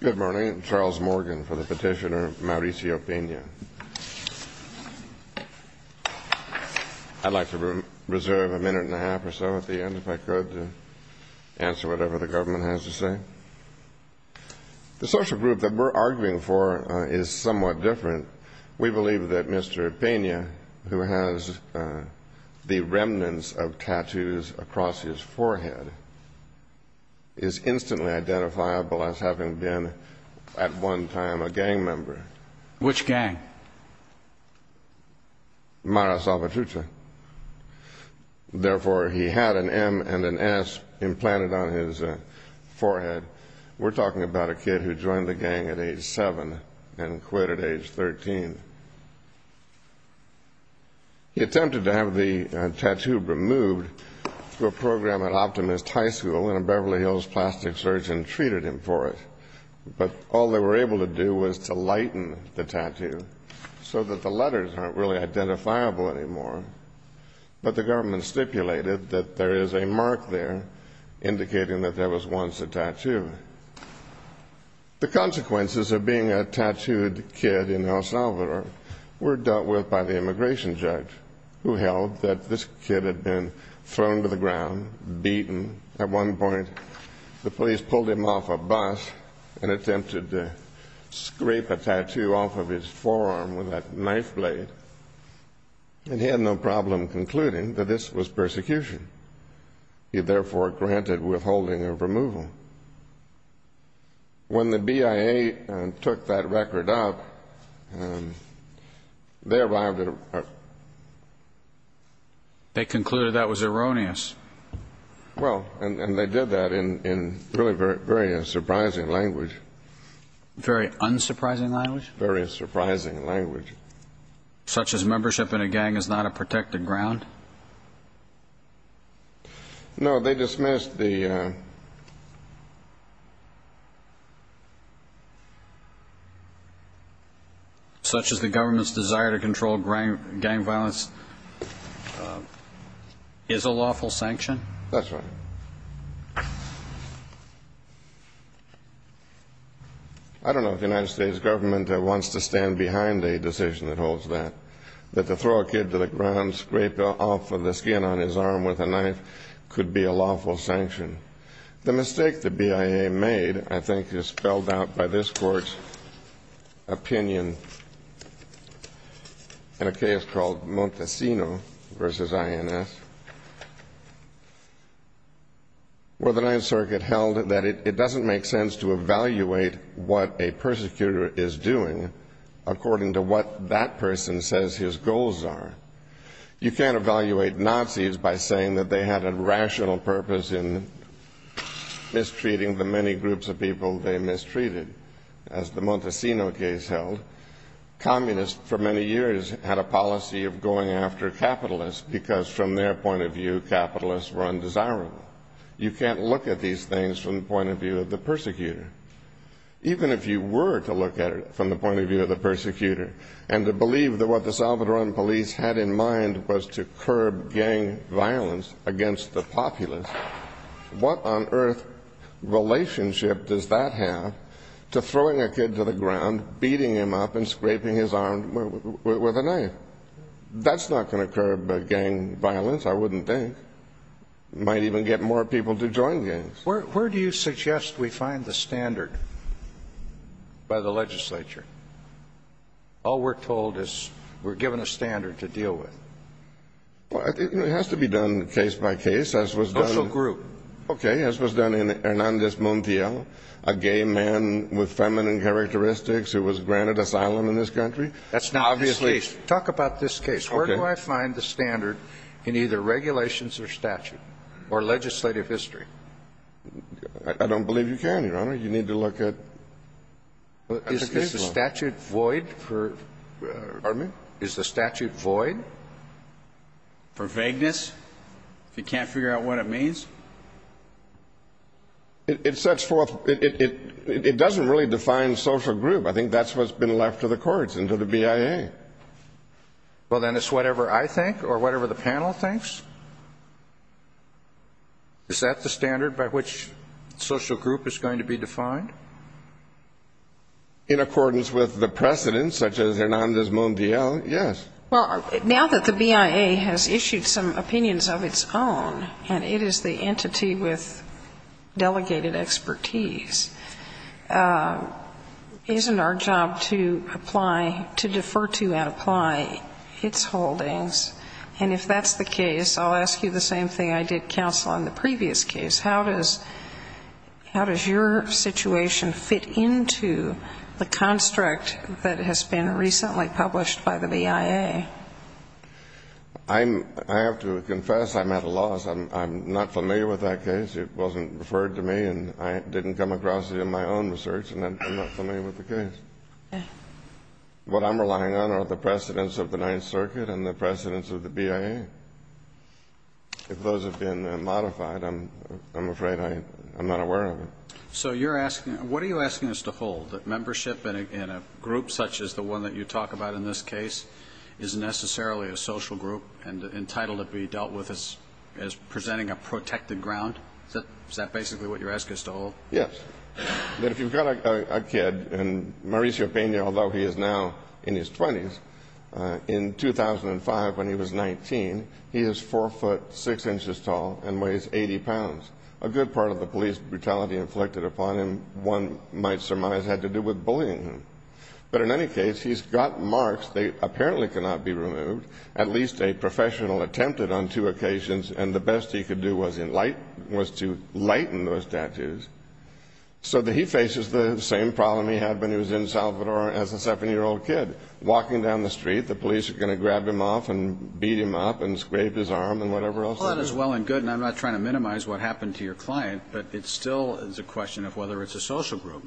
Good morning. I'm Charles Morgan for the petitioner Mauricio Pena. I'd like to reserve a minute and a half or so at the end, if I could, to answer whatever the government has to say. The social group that we're arguing for is somewhat different. We believe that Mr. Pena, who has the remnants of tattoos across his forehead, is instantly identifiable as having been, at one time, a gang member. Which gang? Mara Salvatrucha. Therefore, he had an M and an S implanted on his forehead. We're talking about a kid who joined the gang at age seven and quit at age 13. He attempted to have the tattoo removed through a program at Optimist High School, and a Beverly Hills plastic surgeon treated him for it. But all they were able to do was to lighten the tattoo so that the letters aren't really identifiable anymore. But the government stipulated that there is a mark there indicating that there was once a tattoo. The consequences of being a tattooed kid in El Salvador were dealt with by the immigration judge, who held that this kid had been thrown to the ground, beaten. At one point, the police pulled him off a bus and attempted to scrape a tattoo off of his forearm with a knife blade. And he had no problem concluding that this was persecution. He, therefore, granted withholding of removal. When the BIA took that record up, they arrived at a... They concluded that was erroneous. Well, and they did that in really very surprising language. Very unsurprising language? Very surprising language. Such as membership in a gang is not a protected ground? No, they dismissed the... Such as the government's desire to control gang violence is a lawful sanction? That's right. I don't know if the United States government wants to stand behind a decision that holds that. That to throw a kid to the ground, scrape off of the skin on his arm with a knife could be a lawful sanction. The mistake the BIA made, I think, is spelled out by this court's opinion in a case called Montesino v. INS. Where the Ninth Circuit held that it doesn't make sense to evaluate what a persecutor is doing according to what that person says his goals are. You can't evaluate Nazis by saying that they had a rational purpose in mistreating the many groups of people they mistreated. As the Montesino case held, communists for many years had a policy of going after capitalists because from their point of view, capitalists were undesirable. You can't look at these things from the point of view of the persecutor. Even if you were to look at it from the point of view of the persecutor and to believe that what the Salvadoran police had in mind was to curb gang violence against the populace, what on earth relationship does that have to throwing a kid to the ground, beating him up, and scraping his arm with a knife? That's not going to curb gang violence, I wouldn't think. Might even get more people to join gangs. Where do you suggest we find the standard by the legislature? All we're told is we're given a standard to deal with. Well, it has to be done case by case. Social group. Okay, as was done in Hernandez Montiel, a gay man with feminine characteristics who was granted asylum in this country. That's not obviously. Talk about this case. Where do I find the standard in either regulations or statute or legislative history? I don't believe you can, Your Honor. You need to look at the case law. Is the statute void? Pardon me? Is the statute void? For vagueness? If you can't figure out what it means? It sets forth, it doesn't really define social group. I think that's what's been left to the courts and to the BIA. Well, then it's whatever I think or whatever the panel thinks? Is that the standard by which social group is going to be defined? In accordance with the precedent, such as Hernandez Montiel, yes. Well, now that the BIA has issued some opinions of its own, and it is the entity with delegated expertise, isn't our job to apply, to defer to and apply its holdings? And if that's the case, I'll ask you the same thing I did counsel on the previous case. How does your situation fit into the construct that has been recently published by the BIA? I have to confess I'm at a loss. I'm not familiar with that case. It wasn't referred to me, and I didn't come across it in my own research, and I'm not familiar with the case. What I'm relying on are the precedents of the Ninth Circuit and the precedents of the BIA. If those have been modified, I'm afraid I'm not aware of it. So you're asking, what are you asking us to hold? That membership in a group such as the one that you talk about in this case is necessarily a social group and entitled to be dealt with as presenting a protected ground? Is that basically what you're asking us to hold? Yes. If you've got a kid, and Mauricio Peña, although he is now in his 20s, in 2005 when he was 19, he is 4 foot 6 inches tall and weighs 80 pounds. A good part of the police brutality inflicted upon him, one might surmise, had to do with bullying him. But in any case, he's got marks. They apparently cannot be removed. At least a professional attempted on two occasions, and the best he could do was to lighten those tattoos. So he faces the same problem he had when he was in Salvador as a 7-year-old kid. Walking down the street, the police are going to grab him off and beat him up and scrape his arm and whatever else. All that is well and good, and I'm not trying to minimize what happened to your client, but it still is a question of whether it's a social group.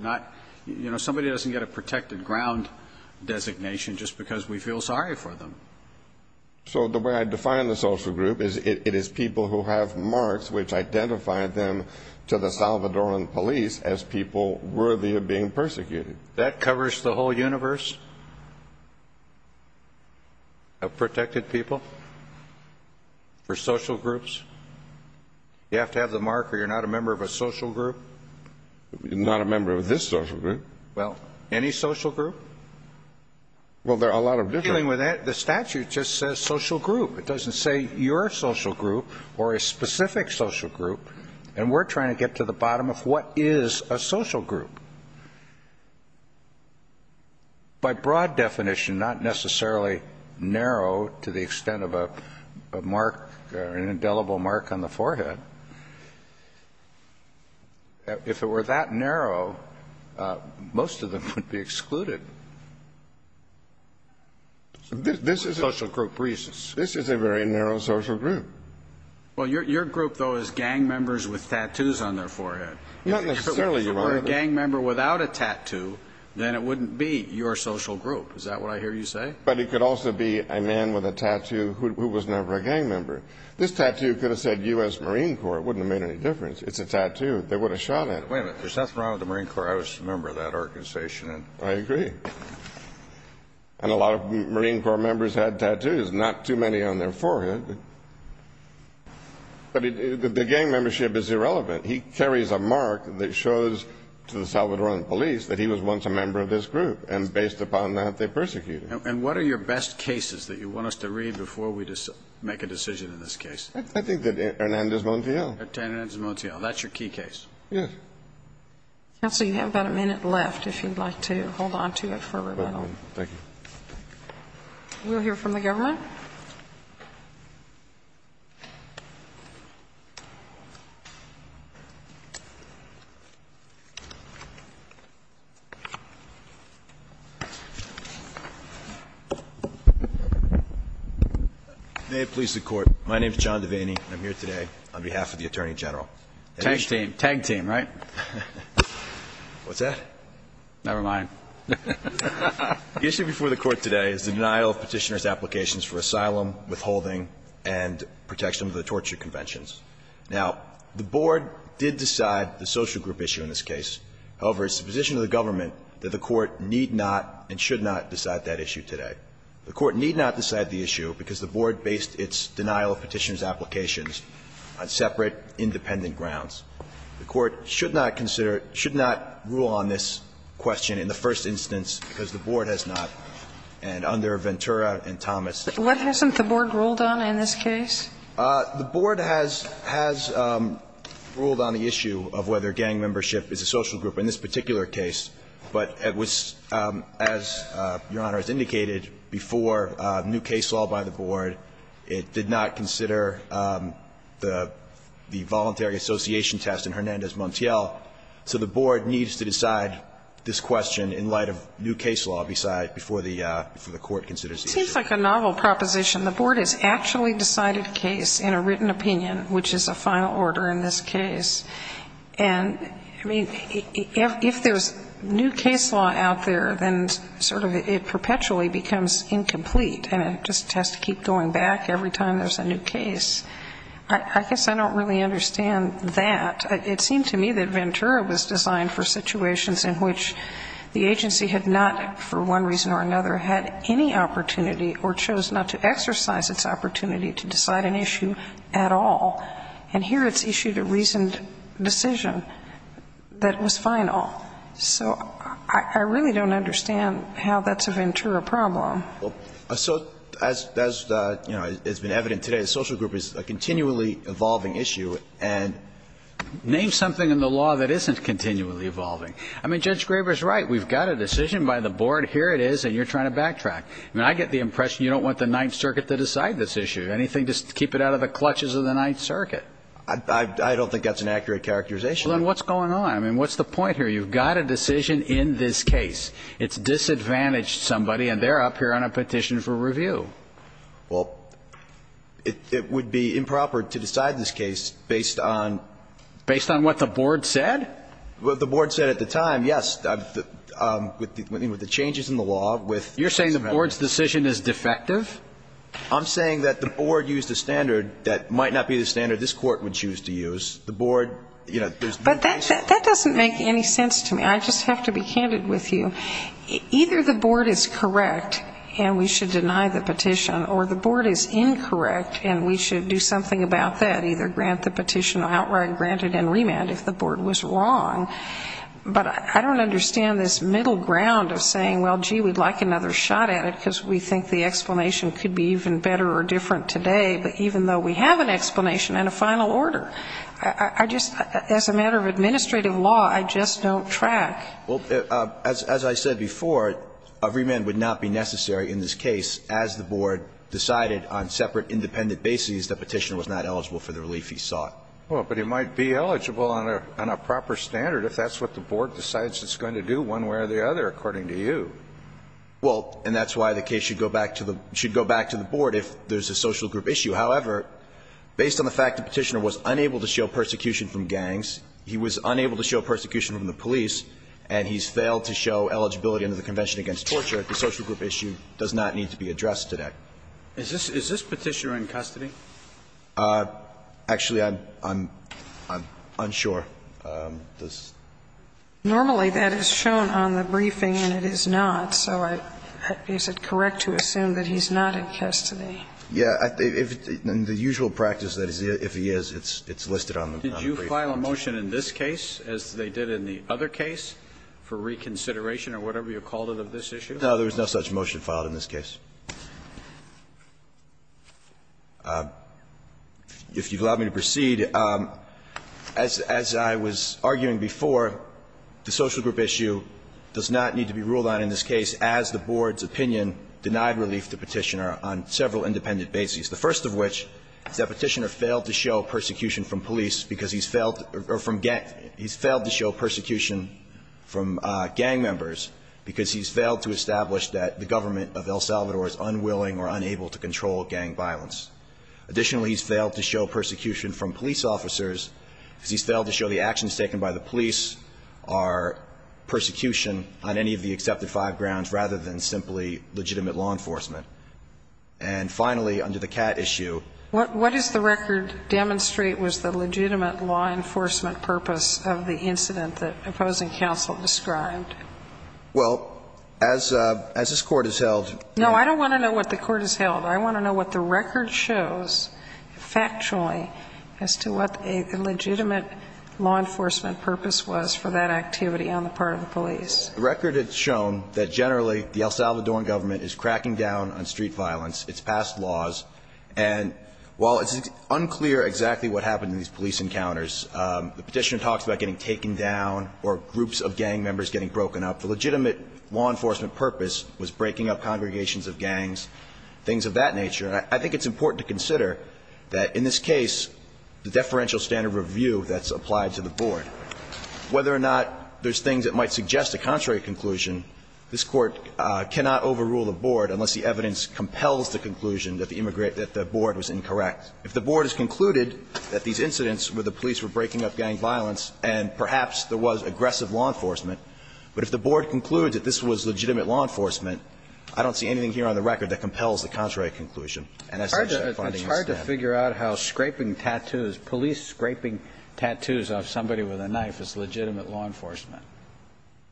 Somebody doesn't get a protected ground designation just because we feel sorry for them. So the way I define the social group is it is people who have marks which identify them to the Salvadoran police as people worthy of being persecuted. That covers the whole universe? Of protected people? For social groups? You have to have the mark or you're not a member of a social group? You're not a member of this social group. Well, any social group? Well, there are a lot of different. Dealing with that, the statute just says social group. It doesn't say your social group or a specific social group, and we're trying to get to the bottom of what is a social group. By broad definition, not necessarily narrow to the extent of a mark or an indelible mark on the forehead, but if it were that narrow, most of them would be excluded. This is a very narrow social group. Well, your group, though, is gang members with tattoos on their forehead. Not necessarily, Your Honor. If you're a gang member without a tattoo, then it wouldn't be your social group. Is that what I hear you say? But it could also be a man with a tattoo who was never a gang member. This tattoo could have said U.S. Marine Corps. It wouldn't have made any difference. It's a tattoo. They would have shot at it. Wait a minute. There's nothing wrong with the Marine Corps. I was a member of that organization. I agree. And a lot of Marine Corps members had tattoos, not too many on their forehead. But the gang membership is irrelevant. He carries a mark that shows to the Salvadoran police that he was once a member of this group, and based upon that, they persecuted him. And what are your best cases that you want us to read before we make a decision in this case? I think that Hernandez-Montiel. Hernandez-Montiel. That's your key case. Yes. Counsel, you have about a minute left if you'd like to hold on to it for a moment. Thank you. We'll hear from the government. May it please the Court. My name is John Devaney, and I'm here today on behalf of the Attorney General. Tag team. Tag team, right? What's that? Never mind. The issue before the Court today is the denial of petitioner's applications for asylum, withholding, and protection under the torture conventions. Now, the Board did decide the social group issue in this case. However, it's the position of the government that the Court need not and should not decide that issue today. The Court need not decide the issue because the Board based its denial of petitioner's applications on separate, independent grounds. The Court should not consider, should not rule on this question in the first instance because the Board has not. And under Ventura and Thomas. What hasn't the Board ruled on in this case? The Board has ruled on the issue of whether gang membership is a social group in this As Your Honor has indicated, before new case law by the Board, it did not consider the voluntary association test in Hernandez Montiel. So the Board needs to decide this question in light of new case law before the Court considers the issue. It seems like a novel proposition. The Board has actually decided the case in a written opinion, which is a final order in this case. And, I mean, if there's new case law out there, then sort of it perpetually becomes incomplete and it just has to keep going back every time there's a new case. I guess I don't really understand that. It seemed to me that Ventura was designed for situations in which the agency had not, for one reason or another, had any opportunity or chose not to exercise its opportunity to decide an issue at all. And here it's issued a reasoned decision that was final. So I really don't understand how that's a Ventura problem. So as, you know, it's been evident today, a social group is a continually evolving issue, and name something in the law that isn't continually evolving. I mean, Judge Graber's right. We've got a decision by the Board. Here it is, and you're trying to backtrack. I mean, I get the impression you don't want the Ninth Circuit to decide this issue. Anything to keep it out of the clutches of the Ninth Circuit? I don't think that's an accurate characterization. Well, then what's going on? I mean, what's the point here? You've got a decision in this case. It's disadvantaged somebody, and they're up here on a petition for review. Well, it would be improper to decide this case based on ---- Based on what the Board said? Well, the Board said at the time, yes, with the changes in the law, with ---- You're saying the Board's decision is defective? I'm saying that the Board used a standard that might not be the standard this Court would choose to use. The Board, you know, there's no case ---- But that doesn't make any sense to me. I just have to be candid with you. Either the Board is correct and we should deny the petition, or the Board is incorrect and we should do something about that, either grant the petition outright or grant it in remand if the Board was wrong. But I don't understand this middle ground of saying, well, gee, we'd like another shot at it because we think the explanation could be even better or different today, but even though we have an explanation and a final order, I just ---- as a matter of administrative law, I just don't track. Well, as I said before, a remand would not be necessary in this case as the Board decided on separate independent bases the petitioner was not eligible for the relief he sought. Well, but he might be eligible on a proper standard if that's what the Board decides it's going to do one way or the other, according to you. Well, and that's why the case should go back to the Board if there's a social group issue. However, based on the fact the petitioner was unable to show persecution from gangs, he was unable to show persecution from the police, and he's failed to show eligibility under the Convention Against Torture, the social group issue does not need to be addressed today. Is this petitioner in custody? Actually, I'm unsure. Normally that is shown on the briefing and it is not, so is it correct to assume that he's not in custody? Yeah. In the usual practice, if he is, it's listed on the briefing. Did you file a motion in this case as they did in the other case for reconsideration or whatever you called it of this issue? No, there was no such motion filed in this case. If you'll allow me to proceed, as I was arguing before, the social group issue does not need to be ruled on in this case as the Board's opinion denied relief to the petitioner on several independent bases, the first of which is that petitioner failed to show persecution from police because he's failed to show persecution from gang members because he's failed to establish that the government of El Salvador is unwilling or unable to control gang violence. Additionally, he's failed to show persecution from police officers because he's failed to show the actions taken by the police are persecution on any of the accepted five grounds rather than simply legitimate law enforcement. And finally, under the CAT issue. What does the record demonstrate was the legitimate law enforcement purpose of the activity on the part of the police? Well, as this Court has held. No, I don't want to know what the Court has held. I want to know what the record shows factually as to what a legitimate law enforcement purpose was for that activity on the part of the police. The record has shown that generally the El Salvadoran government is cracking down on street violence. It's passed laws. And while it's unclear exactly what happened in these police encounters, the petitioner talks about getting taken down or groups of gang members getting broken up. The legitimate law enforcement purpose was breaking up congregations of gangs, things of that nature. And I think it's important to consider that in this case the deferential standard review that's applied to the board. Whether or not there's things that might suggest a contrary conclusion, this Court cannot overrule the board unless the evidence compels the conclusion that the board was incorrect. If the board has concluded that these incidents where the police were breaking up gang members and gang members were involved in street violence, and perhaps there was aggressive law enforcement, but if the board concludes that this was legitimate law enforcement, I don't see anything here on the record that compels the contrary conclusion. And I think that funding is dead. It's hard to figure out how scraping tattoos, police scraping tattoos off somebody with a knife is legitimate law enforcement.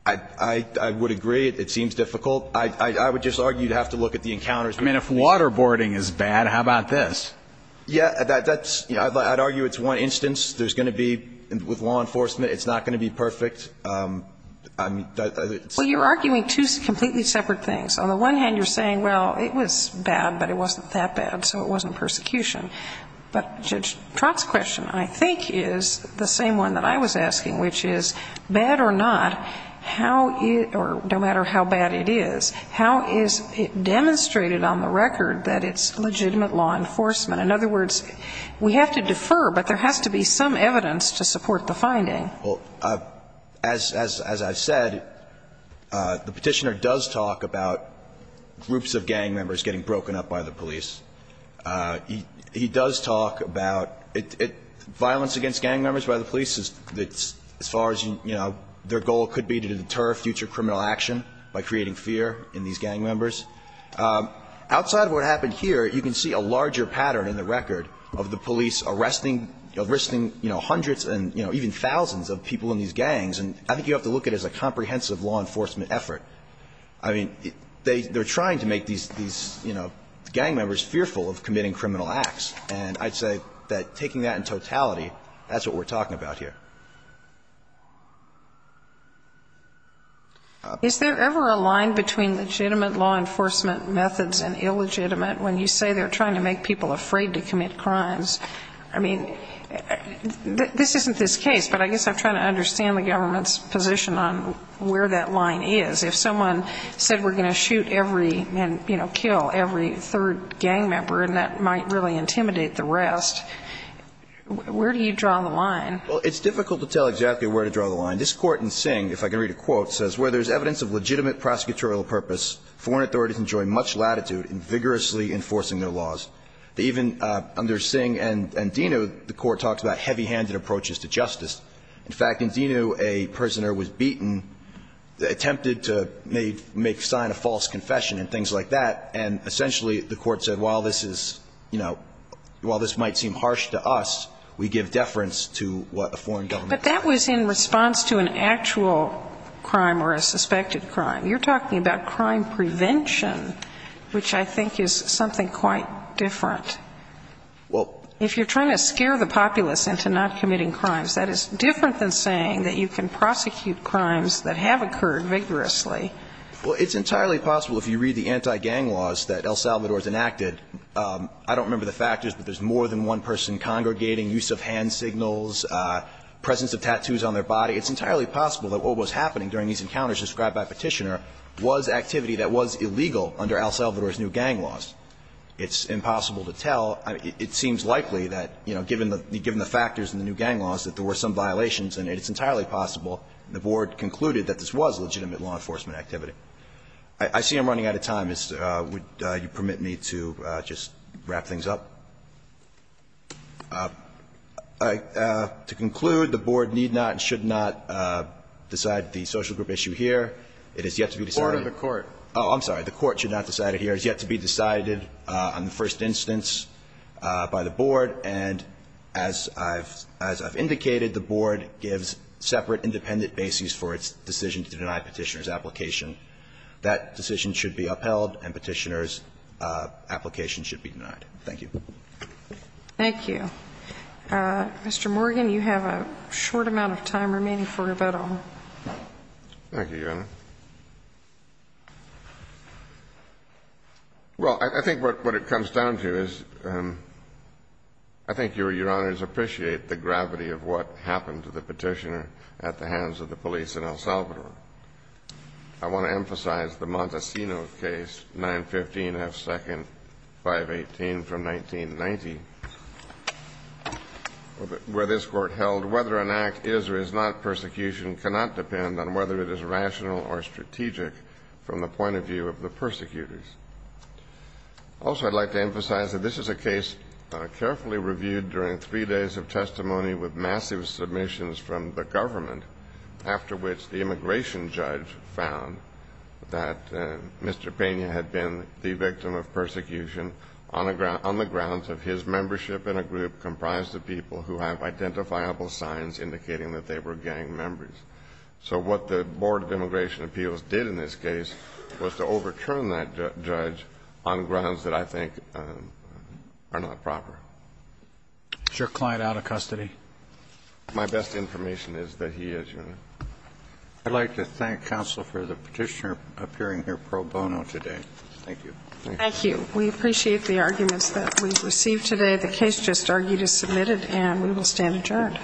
I would agree. It seems difficult. I would just argue you'd have to look at the encounters. I mean, if waterboarding is bad, how about this? Yeah, that's – I'd argue it's one instance. There's going to be – with law enforcement, it's not going to be perfect. I mean, it's – Well, you're arguing two completely separate things. On the one hand, you're saying, well, it was bad, but it wasn't that bad, so it wasn't persecution. But Judge Trott's question, I think, is the same one that I was asking, which is, bad or not, how – or no matter how bad it is, how is it demonstrated on the record that it's legitimate law enforcement? In other words, we have to defer, but there has to be some evidence to support the finding. Well, as I've said, the Petitioner does talk about groups of gang members getting broken up by the police. He does talk about violence against gang members by the police as far as, you know, their goal could be to deter future criminal action by creating fear in these gang members. Outside of what happened here, you can see a larger pattern in the record of the police arresting, you know, hundreds and, you know, even thousands of people in these gangs. And I think you have to look at it as a comprehensive law enforcement effort. I mean, they're trying to make these, you know, gang members fearful of committing criminal acts. And I'd say that taking that in totality, that's what we're talking about here. Is there ever a line between legitimate law enforcement methods and illegitimate when you say they're trying to make people afraid to commit crimes? I mean, this isn't this case, but I guess I'm trying to understand the government's position on where that line is. If someone said we're going to shoot every, you know, kill every third gang member and that might really intimidate the rest, where do you draw the line? Well, it's difficult to tell exactly where to draw the line. This Court in Singh, if I can read a quote, says, Where there is evidence of legitimate prosecutorial purpose, foreign authorities enjoy much latitude in vigorously enforcing their laws. They even, under Singh and Dino, the Court talks about heavy-handed approaches to justice. In fact, in Dino, a prisoner was beaten, attempted to make sign of false confession and things like that, and essentially the Court said while this is, you know, while this might seem harsh to us, we give deference to what the foreign government says. But that was in response to an actual crime or a suspected crime. You're talking about crime prevention, which I think is something quite different. Well If you're trying to scare the populace into not committing crimes, that is different than saying that you can prosecute crimes that have occurred vigorously. Well, it's entirely possible if you read the anti-gang laws that El Salvador has enacted. I don't remember the factors, but there's more than one person congregating, use of hand signals, presence of tattoos on their body. It's entirely possible that what was happening during these encounters described by Petitioner was activity that was illegal under El Salvador's new gang laws. It's impossible to tell. It seems likely that, you know, given the factors in the new gang laws, that there were some violations, and it's entirely possible, the Board concluded, that this was legitimate law enforcement activity. I see I'm running out of time. Would you permit me to just wrap things up? To conclude, the Board need not and should not decide the social group issue here. It has yet to be decided. Order of the Court. Oh, I'm sorry. The Court should not decide it here. It has yet to be decided on the first instance by the Board, and as I've indicated, the Board gives separate independent bases for its decision to deny Petitioner's application. That decision should be upheld, and Petitioner's application should be denied. Thank you. Thank you. Mr. Morgan, you have a short amount of time remaining for rebuttal. Thank you, Your Honor. Well, I think what it comes down to is I think Your Honors appreciate the gravity of what happened to the Petitioner at the hands of the police in El Salvador. I want to emphasize the Montesino case, 915 F. 2nd, 518 from 1990, where this Court held whether an act is or is not persecution cannot depend on whether it is rational or strategic from the point of view of the persecutors. Also, I'd like to emphasize that this is a case carefully reviewed during three massive submissions from the government, after which the immigration judge found that Mr. Pena had been the victim of persecution on the grounds of his membership in a group comprised of people who have identifiable signs indicating that they were gang members. So what the Board of Immigration Appeals did in this case was to overturn that judge on grounds that I think are not proper. Is your client out of custody? My best information is that he is, Your Honor. I'd like to thank counsel for the Petitioner appearing here pro bono today. Thank you. Thank you. We appreciate the arguments that we've received today. The case just argued is submitted, and we will stand adjourned. All rise.